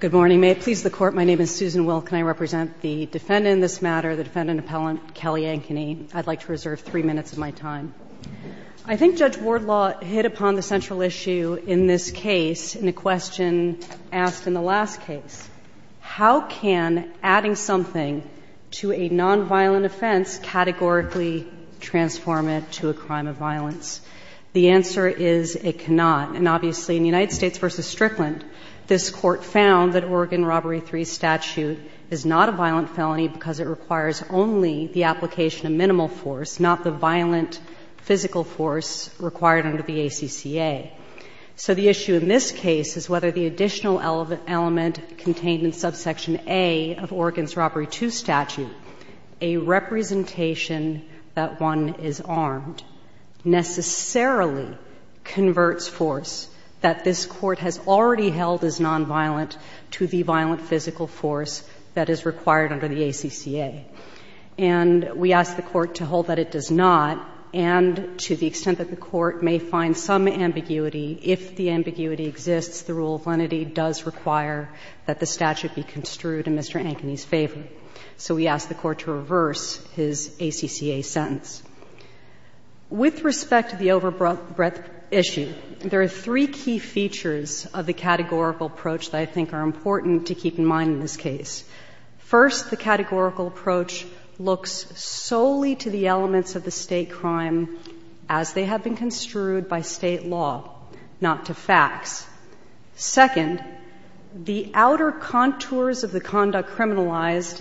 Good morning. May it please the Court, my name is Susan Will. Can I represent the defendant in this matter, the defendant appellant, Kelly Ankeny? I'd like to reserve three minutes of my time. I think Judge Wardlaw hit upon the central issue in this case in a question asked in the last case. How can adding something to a nonviolent offense categorically transform it to a crime of violence? The answer is it cannot. And obviously, in the United States v. Strickland, this Court found that Oregon Robbery 3 statute is not a violent felony because it requires only the application of minimal force, not the violent physical force required under the ACCA. So the issue in this case is whether the additional element contained in Subsection A of Oregon's held as nonviolent to the violent physical force that is required under the ACCA. And we ask the Court to hold that it does not, and to the extent that the Court may find some ambiguity, if the ambiguity exists, the rule of lenity does require that the statute be construed in Mr. Ankeny's favor. So we ask the Court to reverse his ACCA sentence. With respect to the overbreath issue, there are three key features of the categorical approach that I think are important to keep in mind in this case. First, the categorical approach looks solely to the elements of the State crime as they have been construed by State law, not to facts. Second, the outer contours of the conduct criminalized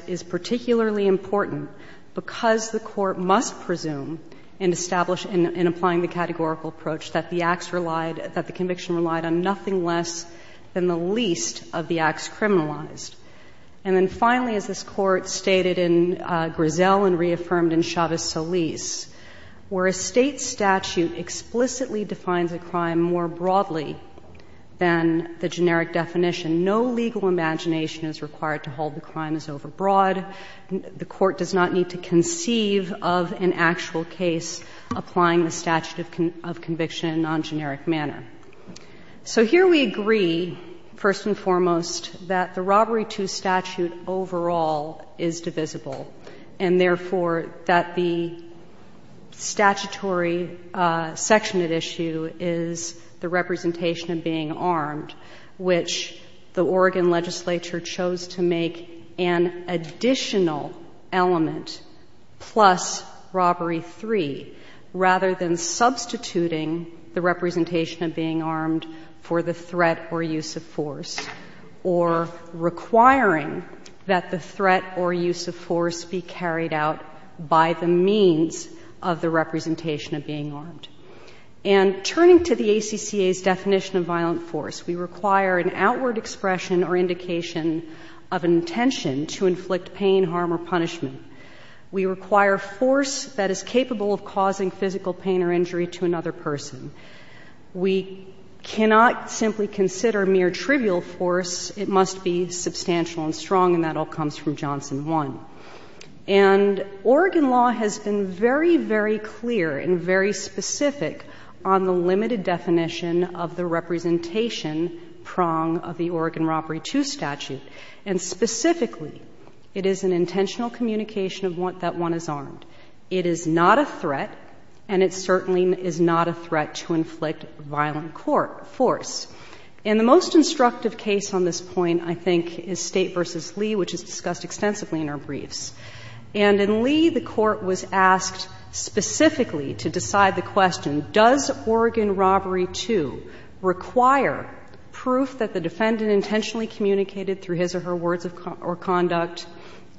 in applying the categorical approach that the acts relied, that the conviction relied on nothing less than the least of the acts criminalized. And then finally, as this Court stated in Grizel and reaffirmed in Chavez-Solis, where a State statute explicitly defines a crime more broadly than the generic definition, no legal imagination is required to hold the crime as overbroad. The Court does not need to conceive of an actual case applying the statute of conviction in a non-generic manner. So here we agree, first and foremost, that the Robbery II statute overall is divisible. And therefore, that the statutory section that issue is the representation of being armed, which the Oregon legislature chose to make an additional element plus Robbery III, rather than substituting the representation of being armed for the threat or use of force, or requiring that the threat or use of force be carried out by the means of the representation of being armed. And turning to the ACCA's definition of violent force, we require an outward expression or indication of intention to inflict pain, harm, or punishment. We require force that is capable of causing physical pain or injury to another person. We cannot simply consider mere trivial force. It must be substantial and strong, and that all comes from Johnson I. And Oregon law has been very, very clear and very specific on the limited definition of the representation prong of the Oregon Robbery II statute. And specifically, it is an intentional communication that one is armed. It is not a threat, and it certainly is not a threat to inflict violent force. In the most instructive case on this point, I think, is State v. Lee, which is discussed extensively in our briefs. And in Lee, the Court was asked specifically to decide the question, does Oregon Robbery II require proof that the defendant intentionally communicated through his or her words or conduct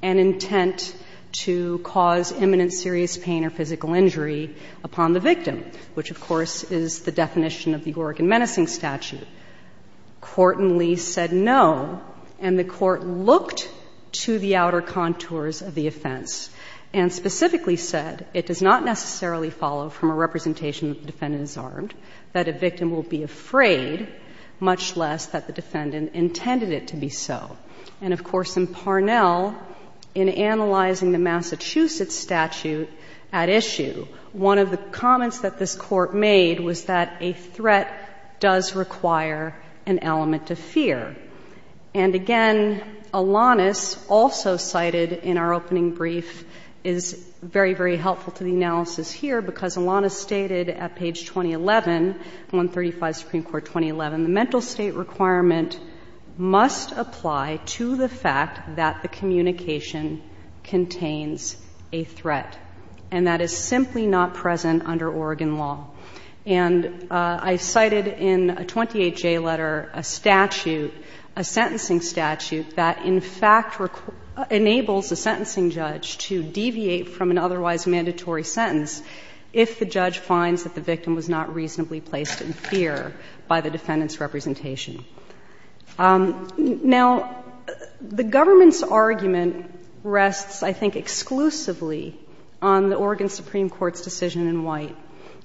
an intent to cause imminent serious pain or physical injury upon the victim, which, of course, is the definition of the Oregon Menacing Statute. Court in Lee said no, and the Court looked to the outer contours of the offense, and specifically said it does not necessarily follow from a representation that the defendant is armed, that a victim will be afraid, much less that the defendant intended it to be so. And of course, in Parnell, in analyzing the Massachusetts statute at issue, one of the comments that this Court made was that a threat does require an element of fear. And again, Alanis also cited in our opening brief is very, very helpful to the analysis here, because Alanis stated at page 2011, 135, Supreme Court, 2011, the mental state requirement must apply to the fact that the communication contains a threat, and that is simply not present under Oregon law. And I cited in a 28J letter a statute, a sentencing statute, that in fact enables a sentencing judge to deviate from an otherwise mandatory sentence if the judge finds that the victim was not reasonably placed in fear by the defendant's representation. Now, the government's argument rests, I think, exclusively on the Oregon Supreme Court's decision in White.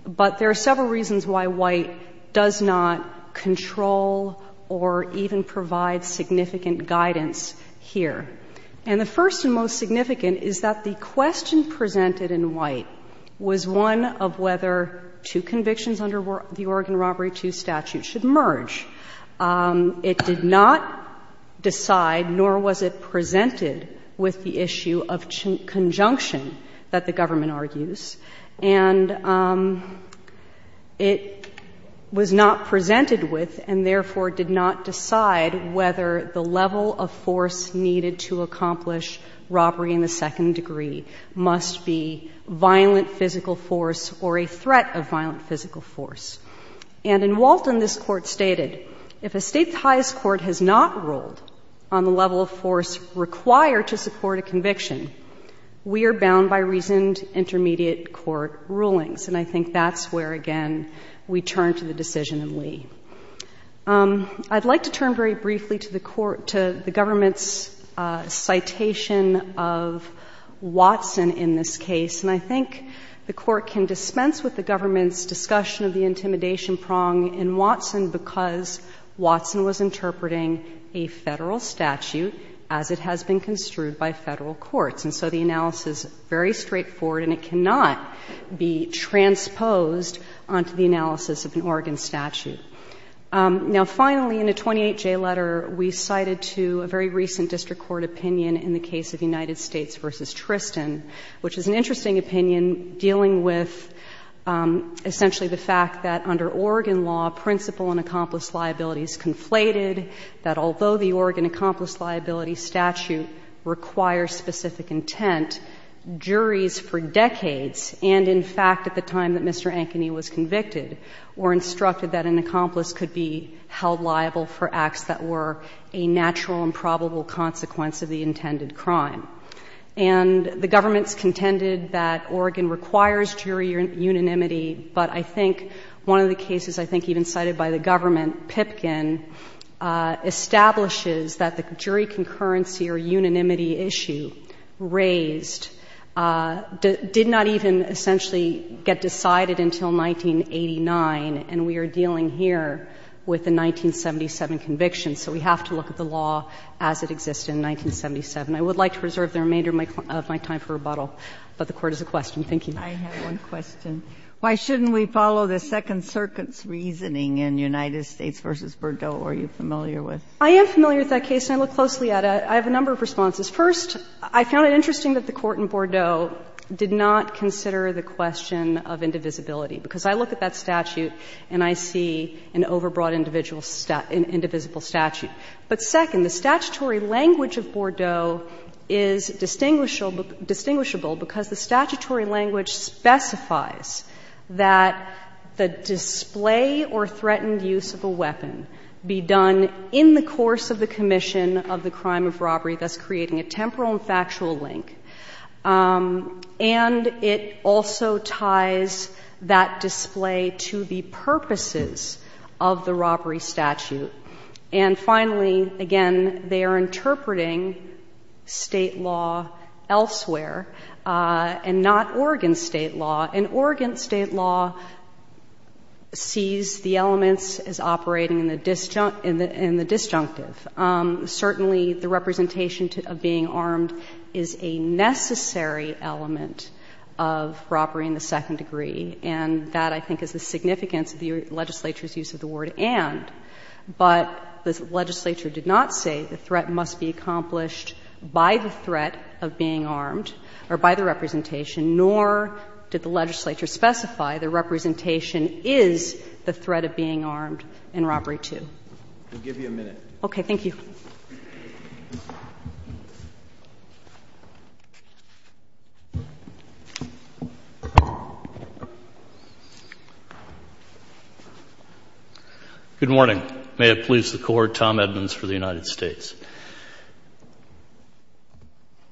But there are several reasons why White does not control or even provide significant guidance here. And the first and most significant is that the question presented in White was one of whether two convictions under the Oregon Robbery II statute should merge. It did not decide, nor was it presented, with the issue of conjunction that the government argues. And it was not presented with and, therefore, did not decide whether the level of force needed to accomplish robbery in the second degree must be violent physical force or a threat of violent physical force. And in Walton, this Court stated, if a state's highest court has not ruled on the level of force required to support a conviction, we are bound by reasoned intermediate court rulings. And I think that's where, again, we turn to the decision in Lee. I'd like to turn very briefly to the Court to the government's citation of Watson in this case. And I think the Court can dispense with the government's discussion of the intimidation prong in Watson because Watson was interpreting a Federal statute as it has been construed by Federal courts. And so the analysis, very straightforward, and it cannot be transposed onto the analysis of an Oregon statute. Now, finally, in the 28J letter, we cited to a very recent district court opinion in the case of United States v. Tristan, which is an interesting opinion dealing with essentially the fact that under Oregon law, principal and accomplice liabilities conflated, that although the Oregon accomplice liability statute requires specific intent, juries for decades, and in fact at the time that Mr. Ankeny was convicted, were instructed that an accomplice could be held liable for acts that were a natural and probable consequence of the intended crime. And the government's contended that Oregon requires jury unanimity, but I think one of the cases I think even cited by the government, Pipkin, establishes that the jury concurrency or unanimity issue raised did not even essentially get decided until 1989, and we are dealing here with the 1977 conviction. So we have to look at the law as it existed in 1977. I would like to reserve the remainder of my time for rebuttal, but the Court has a question. Thank you. Ginsburg. I have one question. Why shouldn't we follow the Second Circuit's reasoning in United States v. Bordeaux? Are you familiar with it? I am familiar with that case, and I look closely at it. I have a number of responses. First, I found it interesting that the Court in Bordeaux did not consider the question of indivisibility, because I look at that statute and I see an overbroad individual indivisible statute. But second, the statutory language of Bordeaux is distinguishable because the statutory language specifies that the display or threatened use of a weapon be done in the course of the commission of the crime of robbery, thus creating a temporal and factual link. And it also ties that display to the purposes of the robbery statute. And finally, again, they are interpreting State law elsewhere and not Oregon State law, and Oregon State law sees the elements as operating in the disjunctive. Certainly, the representation of being armed is a necessary element of robbery in the second degree, and that, I think, is the significance of the legislature's use of the word and. But the legislature did not say the threat must be accomplished by the threat of being armed or by the representation, nor did the legislature specify the representation is the threat of being armed in robbery too. I'll give you a minute. Okay. Thank you. Good morning. May it please the Court, Tom Edmonds for the United States.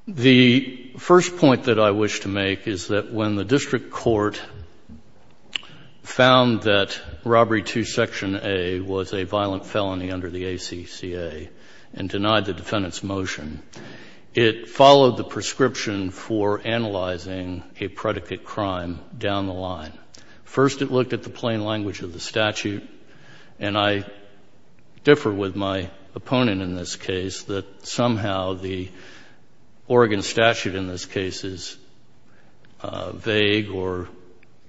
The first point that I wish to make is that when the district court found that robbery to Section A was a violent felony under the ACCA and denied the defendant's motion, it followed the prescription for analyzing a predicate crime down the line. First, it looked at the plain language of the statute. And I differ with my opponent in this case that somehow the Oregon statute in this case is vague or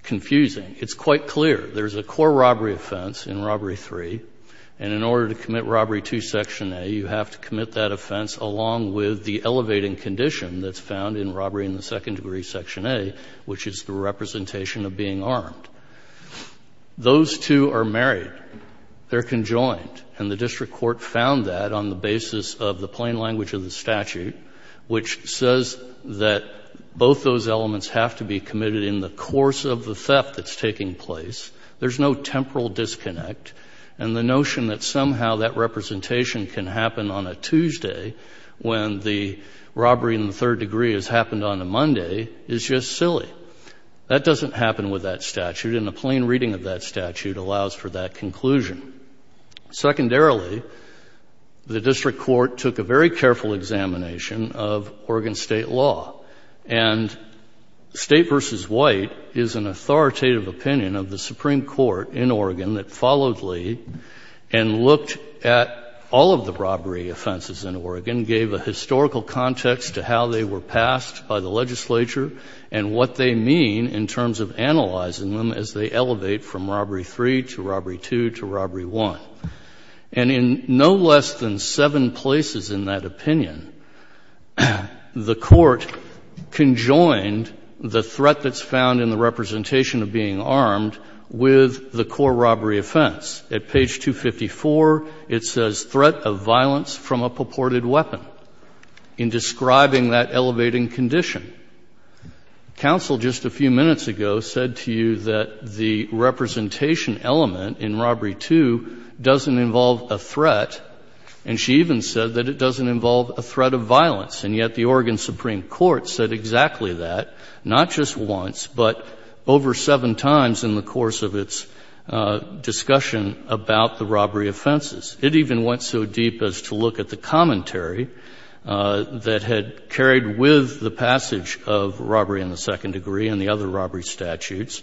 confusing. It's quite clear there's a core robbery offense in Robbery 3, and in order to commit to Section A, which is the representation of being armed. Those two are married. They're conjoined. And the district court found that on the basis of the plain language of the statute, which says that both those elements have to be committed in the course of the theft that's taking place. There's no temporal disconnect. And the notion that somehow that representation can happen on a Tuesday when the robbery in the third degree has happened on a Monday is just silly. That doesn't happen with that statute, and a plain reading of that statute allows for that conclusion. Secondarily, the district court took a very careful examination of Oregon state law. And state versus white is an authoritative opinion of the Supreme Court in Oregon that followed Lee and looked at all of the robbery offenses in Oregon, gave a historical context to how they were passed by the legislature, and what they mean in terms of analyzing them as they elevate from Robbery 3 to Robbery 2 to Robbery 1. And in no less than seven places in that opinion, the Court conjoined the threat that's found in the representation of being armed with the core robbery offense. At page 254, it says, threat of violence from a purported weapon, in describing that elevating condition. Counsel just a few minutes ago said to you that the representation element in Robbery 2 doesn't involve a threat, and she even said that it doesn't involve a threat of violence. And yet the Oregon Supreme Court said exactly that, not just once, but over seven times in the course of its discussion about the robbery offenses. It even went so deep as to look at the commentary that had carried with the passage of robbery in the second degree and the other robbery statutes,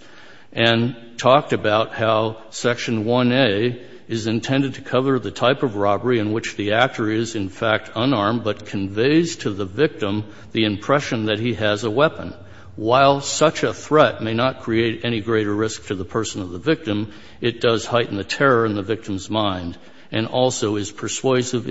and talked about how Section 1A is intended to cover the type of robbery in which the actor is, in fact, unarmed, but conveys to the victim the impression that he has a weapon. While such a threat may not create any greater risk to the person or the victim, it does heighten the terror in the victim's offense, but it ties it in with the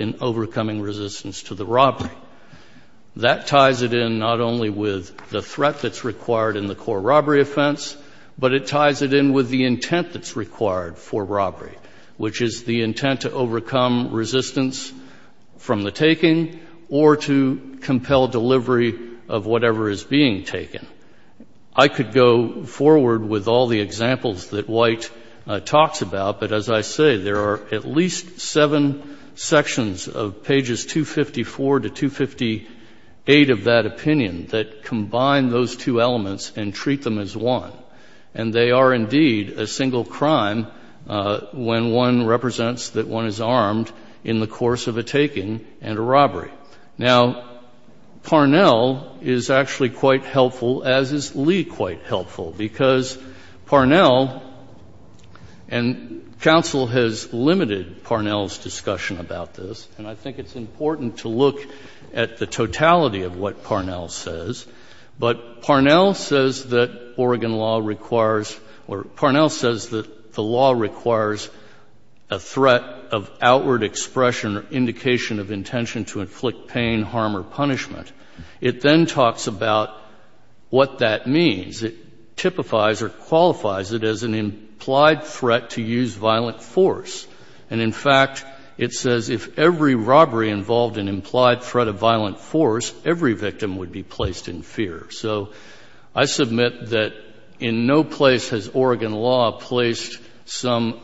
intent that's required for robbery, which is the intent to overcome resistance from the taking, or to compel delivery of whatever is being taken. I could go forward with all the examples that White talks about, but as I say, there are at least seven sections of pages 254 to 258 of that opinion that combine those two elements and treat them as one. And they are indeed a single crime when one represents that one is armed in the course of a taking and a robbery. Now, Parnell is actually quite helpful, as is Lee quite helpful, because Parnell — and counsel has limited Parnell's discussion about this, and I think it's important to look at the totality of what Parnell says. But Parnell says that Oregon law requires — or Parnell says that the law requires a threat of outward expression or indication of intention to inflict pain, harm, or punishment. It then talks about what that means. It typifies or qualifies it as an implied threat to use violent force. And in fact, it says if every robbery involved an implied threat of violent force, every victim would be placed in fear. So I submit that in no place has Oregon law placed some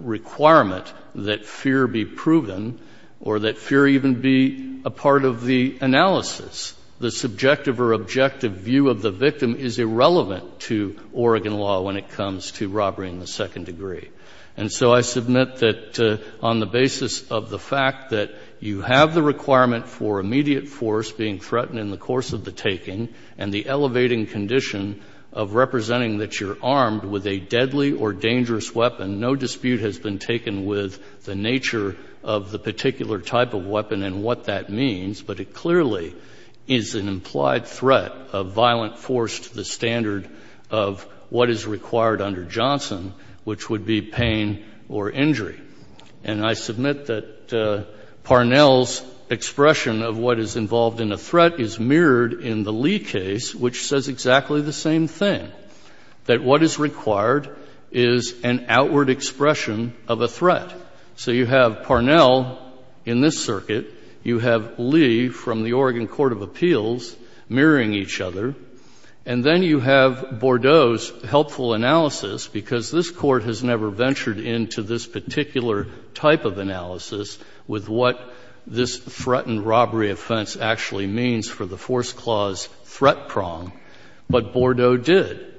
requirement that fear be proven or that fear even be a part of the analysis. The subjective or objective view of the victim is irrelevant to Oregon law when it comes to robbery in the second degree. And so I submit that on the basis of the fact that you have the requirement for immediate force being threatened in the course of the taking and the elevating condition of representing that you're armed with a deadly or dangerous weapon, no dispute has been taken with the nature of the particular type of weapon and what that means. But it clearly is an implied threat of violent force to the standard of what is required under Johnson, which would be pain or injury. And I submit that Parnell's expression of what is involved in a threat is mirrored in the Lee case, which says exactly the same thing, that what is required is an outward expression of a threat. So you have Parnell in this circuit, you have Lee from the Oregon Court of Appeals mirroring each other, and then you have Bordeaux's helpful analysis, because this Court has never ventured into this particular type of analysis with what this threatened robbery offense actually means for the force clause threat prong, but Bordeaux did.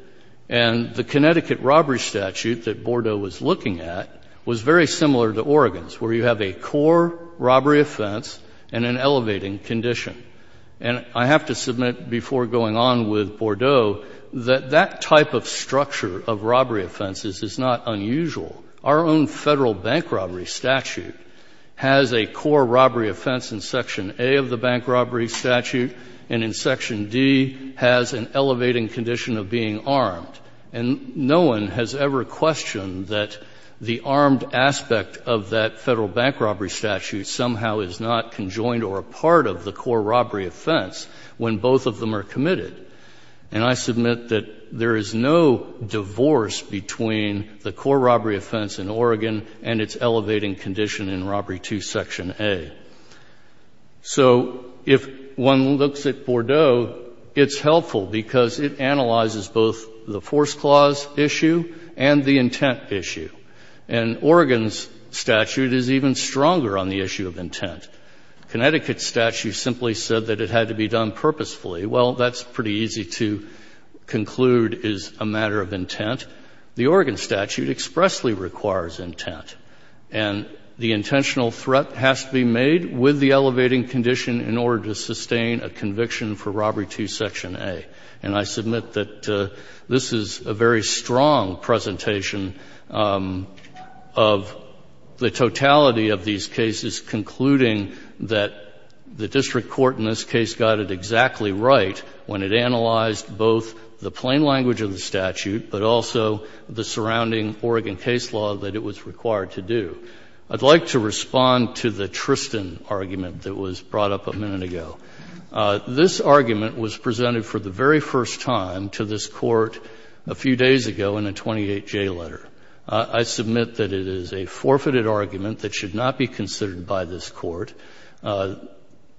And the Connecticut robbery statute that Bordeaux was looking at was very similar to Oregon's, where you have a core robbery offense and an elevating condition. And I have to submit before going on with Bordeaux that that type of structure of robbery offenses is not unusual. Our own Federal bank robbery statute has a core robbery offense in Section A of the bank robbery statute, and in Section D has an elevating condition of being armed. And no one has ever questioned that the armed when both of them are committed. And I submit that there is no divorce between the core robbery offense in Oregon and its elevating condition in Robbery II, Section A. So if one looks at Bordeaux, it's helpful because it analyzes both the force clause issue and the intent issue. And Oregon's statute is even stronger on the issue of intent. Connecticut's statute simply said that it had to be done purposefully. Well, that's pretty easy to conclude is a matter of intent. The Oregon statute expressly requires intent. And the intentional threat has to be made with the elevating condition in order to sustain a conviction for Robbery II, Section A. And I submit that this is a very strong presentation of the totality of these cases concluding that the district court in this case got it exactly right when it analyzed both the plain language of the statute, but also the surrounding Oregon case law that it was required to do. I'd like to respond to the Tristan argument that was brought up a minute ago. This argument was presented for the very first time to this Court a few days ago in a 28J letter. I submit that it is a forfeited argument that should not be considered by this Court.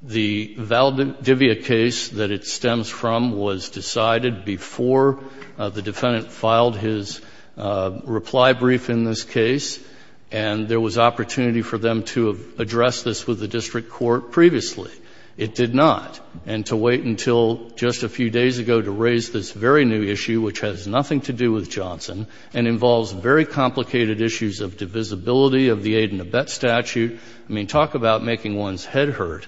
The Valdivia case that it stems from was decided before the defendant filed his reply brief in this case, and there was opportunity for them to address this with the district court previously. It did not. And to wait until just a few days ago to raise this very new issue, which has nothing to do with Johnson and involves very complicated issues of divisibility of the aid and abet statute, I mean, talk about making one's head hurt,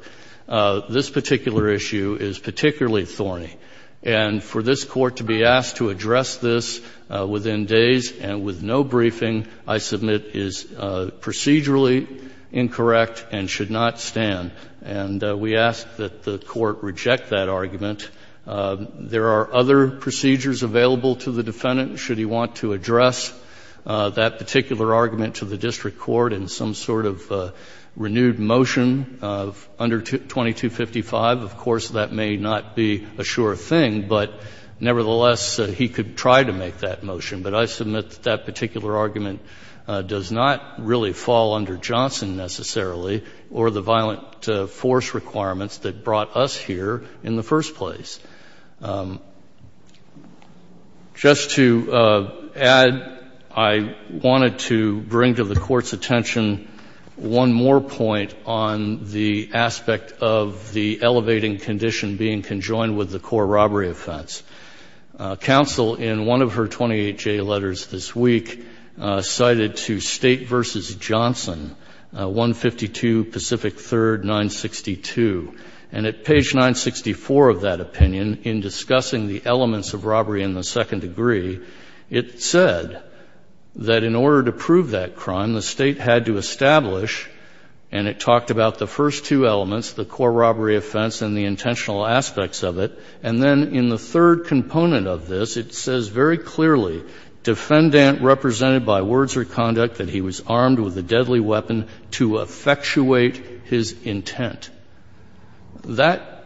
this particular issue is particularly thorny. And for this Court to be asked to address this within days and with no briefing, I submit is procedurally incorrect and should not stand. And we ask that the Court reject that argument. There are other procedures available to the defendant should he want to address that particular argument to the district court in some sort of renewed motion under 2255. Of course, that may not be a sure thing, but nevertheless, he could try to make that motion. But I submit that that particular argument does not really fall under Johnson necessarily or the violent force requirements that brought us here in the first place. Just to add, I wanted to bring to the Court's attention one more point on the aspect of the elevating condition being conjoined with the core robbery offense. Counsel in one of her 28-J letters this week cited to State v. Johnson, 152 Pacific 3rd, 962. And at page 964 of that opinion, in discussing the elements of robbery in the second degree, it said that in order to prove that crime, the State had to establish and it talked about the first two elements, the core robbery offense and the intentional robbery offense. The third component of this, it says very clearly, defendant represented by words or conduct that he was armed with a deadly weapon to effectuate his intent. That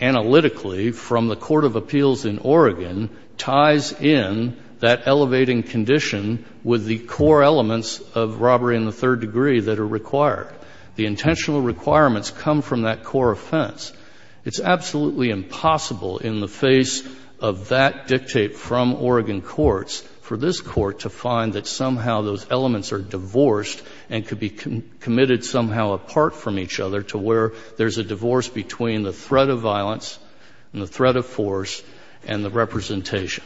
analytically from the court of appeals in Oregon ties in that elevating condition with the core elements of robbery in the third degree that are required. The intentional requirements come from that core offense. It's absolutely impossible in the face of that dictate from Oregon courts for this court to find that somehow those elements are divorced and could be committed somehow apart from each other to where there's a divorce between the threat of violence and the threat of force and the representation.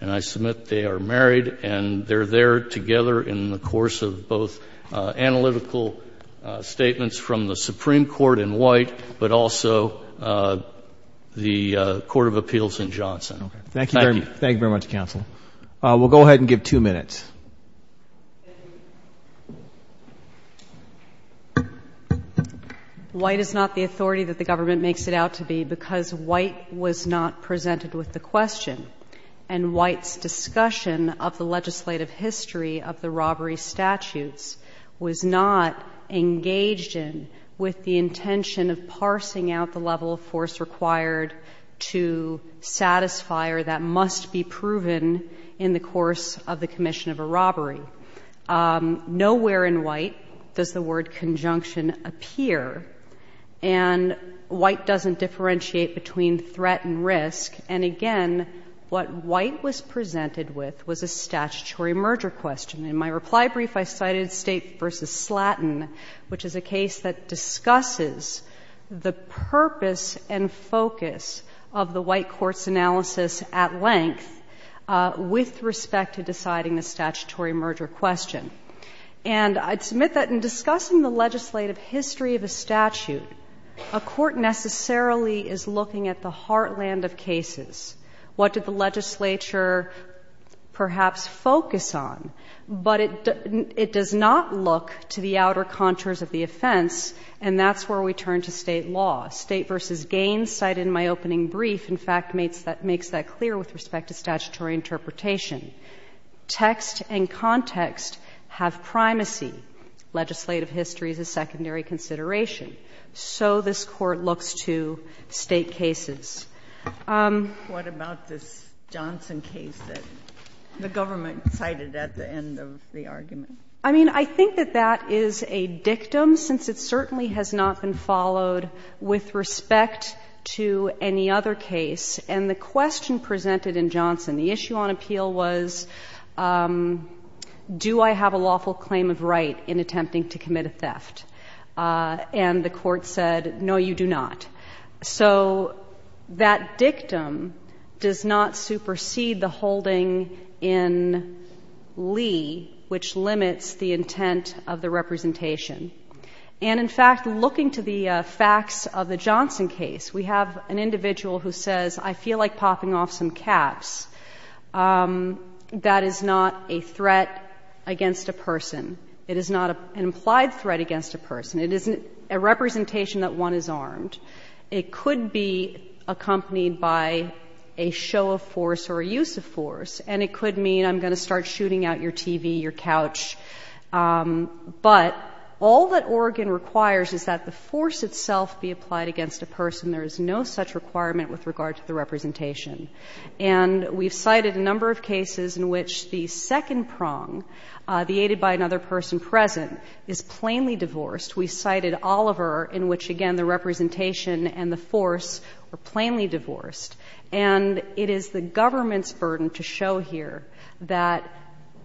And I submit they are married and they're there together in the course of both analytical statements from the Supreme Court in White but also the court of appeals in Johnson. Thank you. Thank you very much, counsel. We'll go ahead and give two minutes. White is not the authority that the government makes it out to be because White was not presented with the question and White's discussion of the legislative history of the robbery statutes was not engaged in with the intention of parsing out the level of force required to satisfy or that must be proven in the course of the commission of a robbery. Nowhere in White does the word conjunction appear and White doesn't differentiate between threat and risk. And again, what White was presented with was a statutory merger question. In my reply brief, I cited State v. Slatton, which is a case that discusses the purpose and focus of the White court's analysis at length with respect to deciding the statutory merger question. And I'd submit that in discussing the legislative history of a statute, a court necessarily is looking at the heartland of cases. What did the legislature perhaps focus on? But it does not look to the outer contours of the offense, and that's where we turn to State law. State v. Gaines cited in my opening brief, in fact, makes that clear with respect to statutory interpretation. Text and context have primacy. Legislative history is a secondary consideration. So this Court looks to State cases. What about this Johnson case that the government cited at the end of the argument? I mean, I think that that is a dictum, since it certainly has not been followed with respect to any other case. And the question presented in Johnson, the issue on appeal was, do I have a lawful claim of right in attempting to commit a theft? And the Court said, no, you do not. So that dictum does not supersede the holding in Lee, which limits the intent of the representation. And, in fact, looking to the facts of the Johnson case, we have an individual who says, I feel like popping off some caps. That is not a threat against a person. It is not an implied threat against a person. It isn't a representation that one is armed. It could be accompanied by a show of force or a use of force, and it could mean I'm going to start shooting out your TV, your couch. But all that Oregon requires is that the force itself be applied against a person. There is no such requirement with regard to the representation. And we've cited a number of cases in which the second prong, the aided by another person present, is plainly divorced. We cited Oliver, in which, again, the representation and the force are plainly divorced. And it is the government's burden to show here that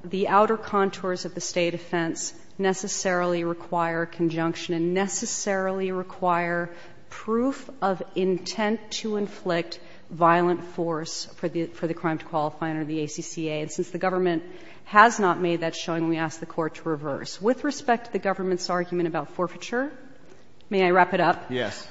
the outer contours of the State offense necessarily require conjunction and necessarily require proof of intent to force for the crime to qualify under the ACCA. And since the government has not made that showing, we ask the Court to reverse. With respect to the government's argument about forfeiture, may I wrap it up? Breyer, yes.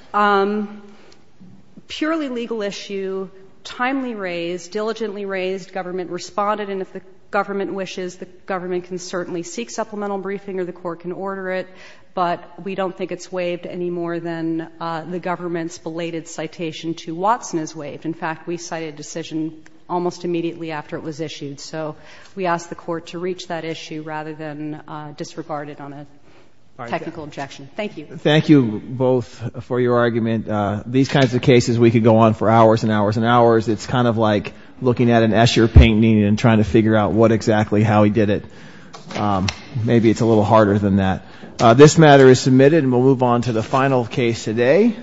Purely legal issue, timely raised, diligently raised, government responded. And if the government wishes, the government can certainly seek supplemental briefing or the Court can order it, but we don't think it's waived any more than the government's belated citation to Watson is waived. In fact, we cited a decision almost immediately after it was issued. So we ask the Court to reach that issue rather than disregard it on a technical objection. Thank you. Thank you both for your argument. These kinds of cases we could go on for hours and hours and hours. It's kind of like looking at an Escher painting and trying to figure out what exactly how he did it. Maybe it's a little harder than that. This matter is submitted, and we'll move on to the final case today.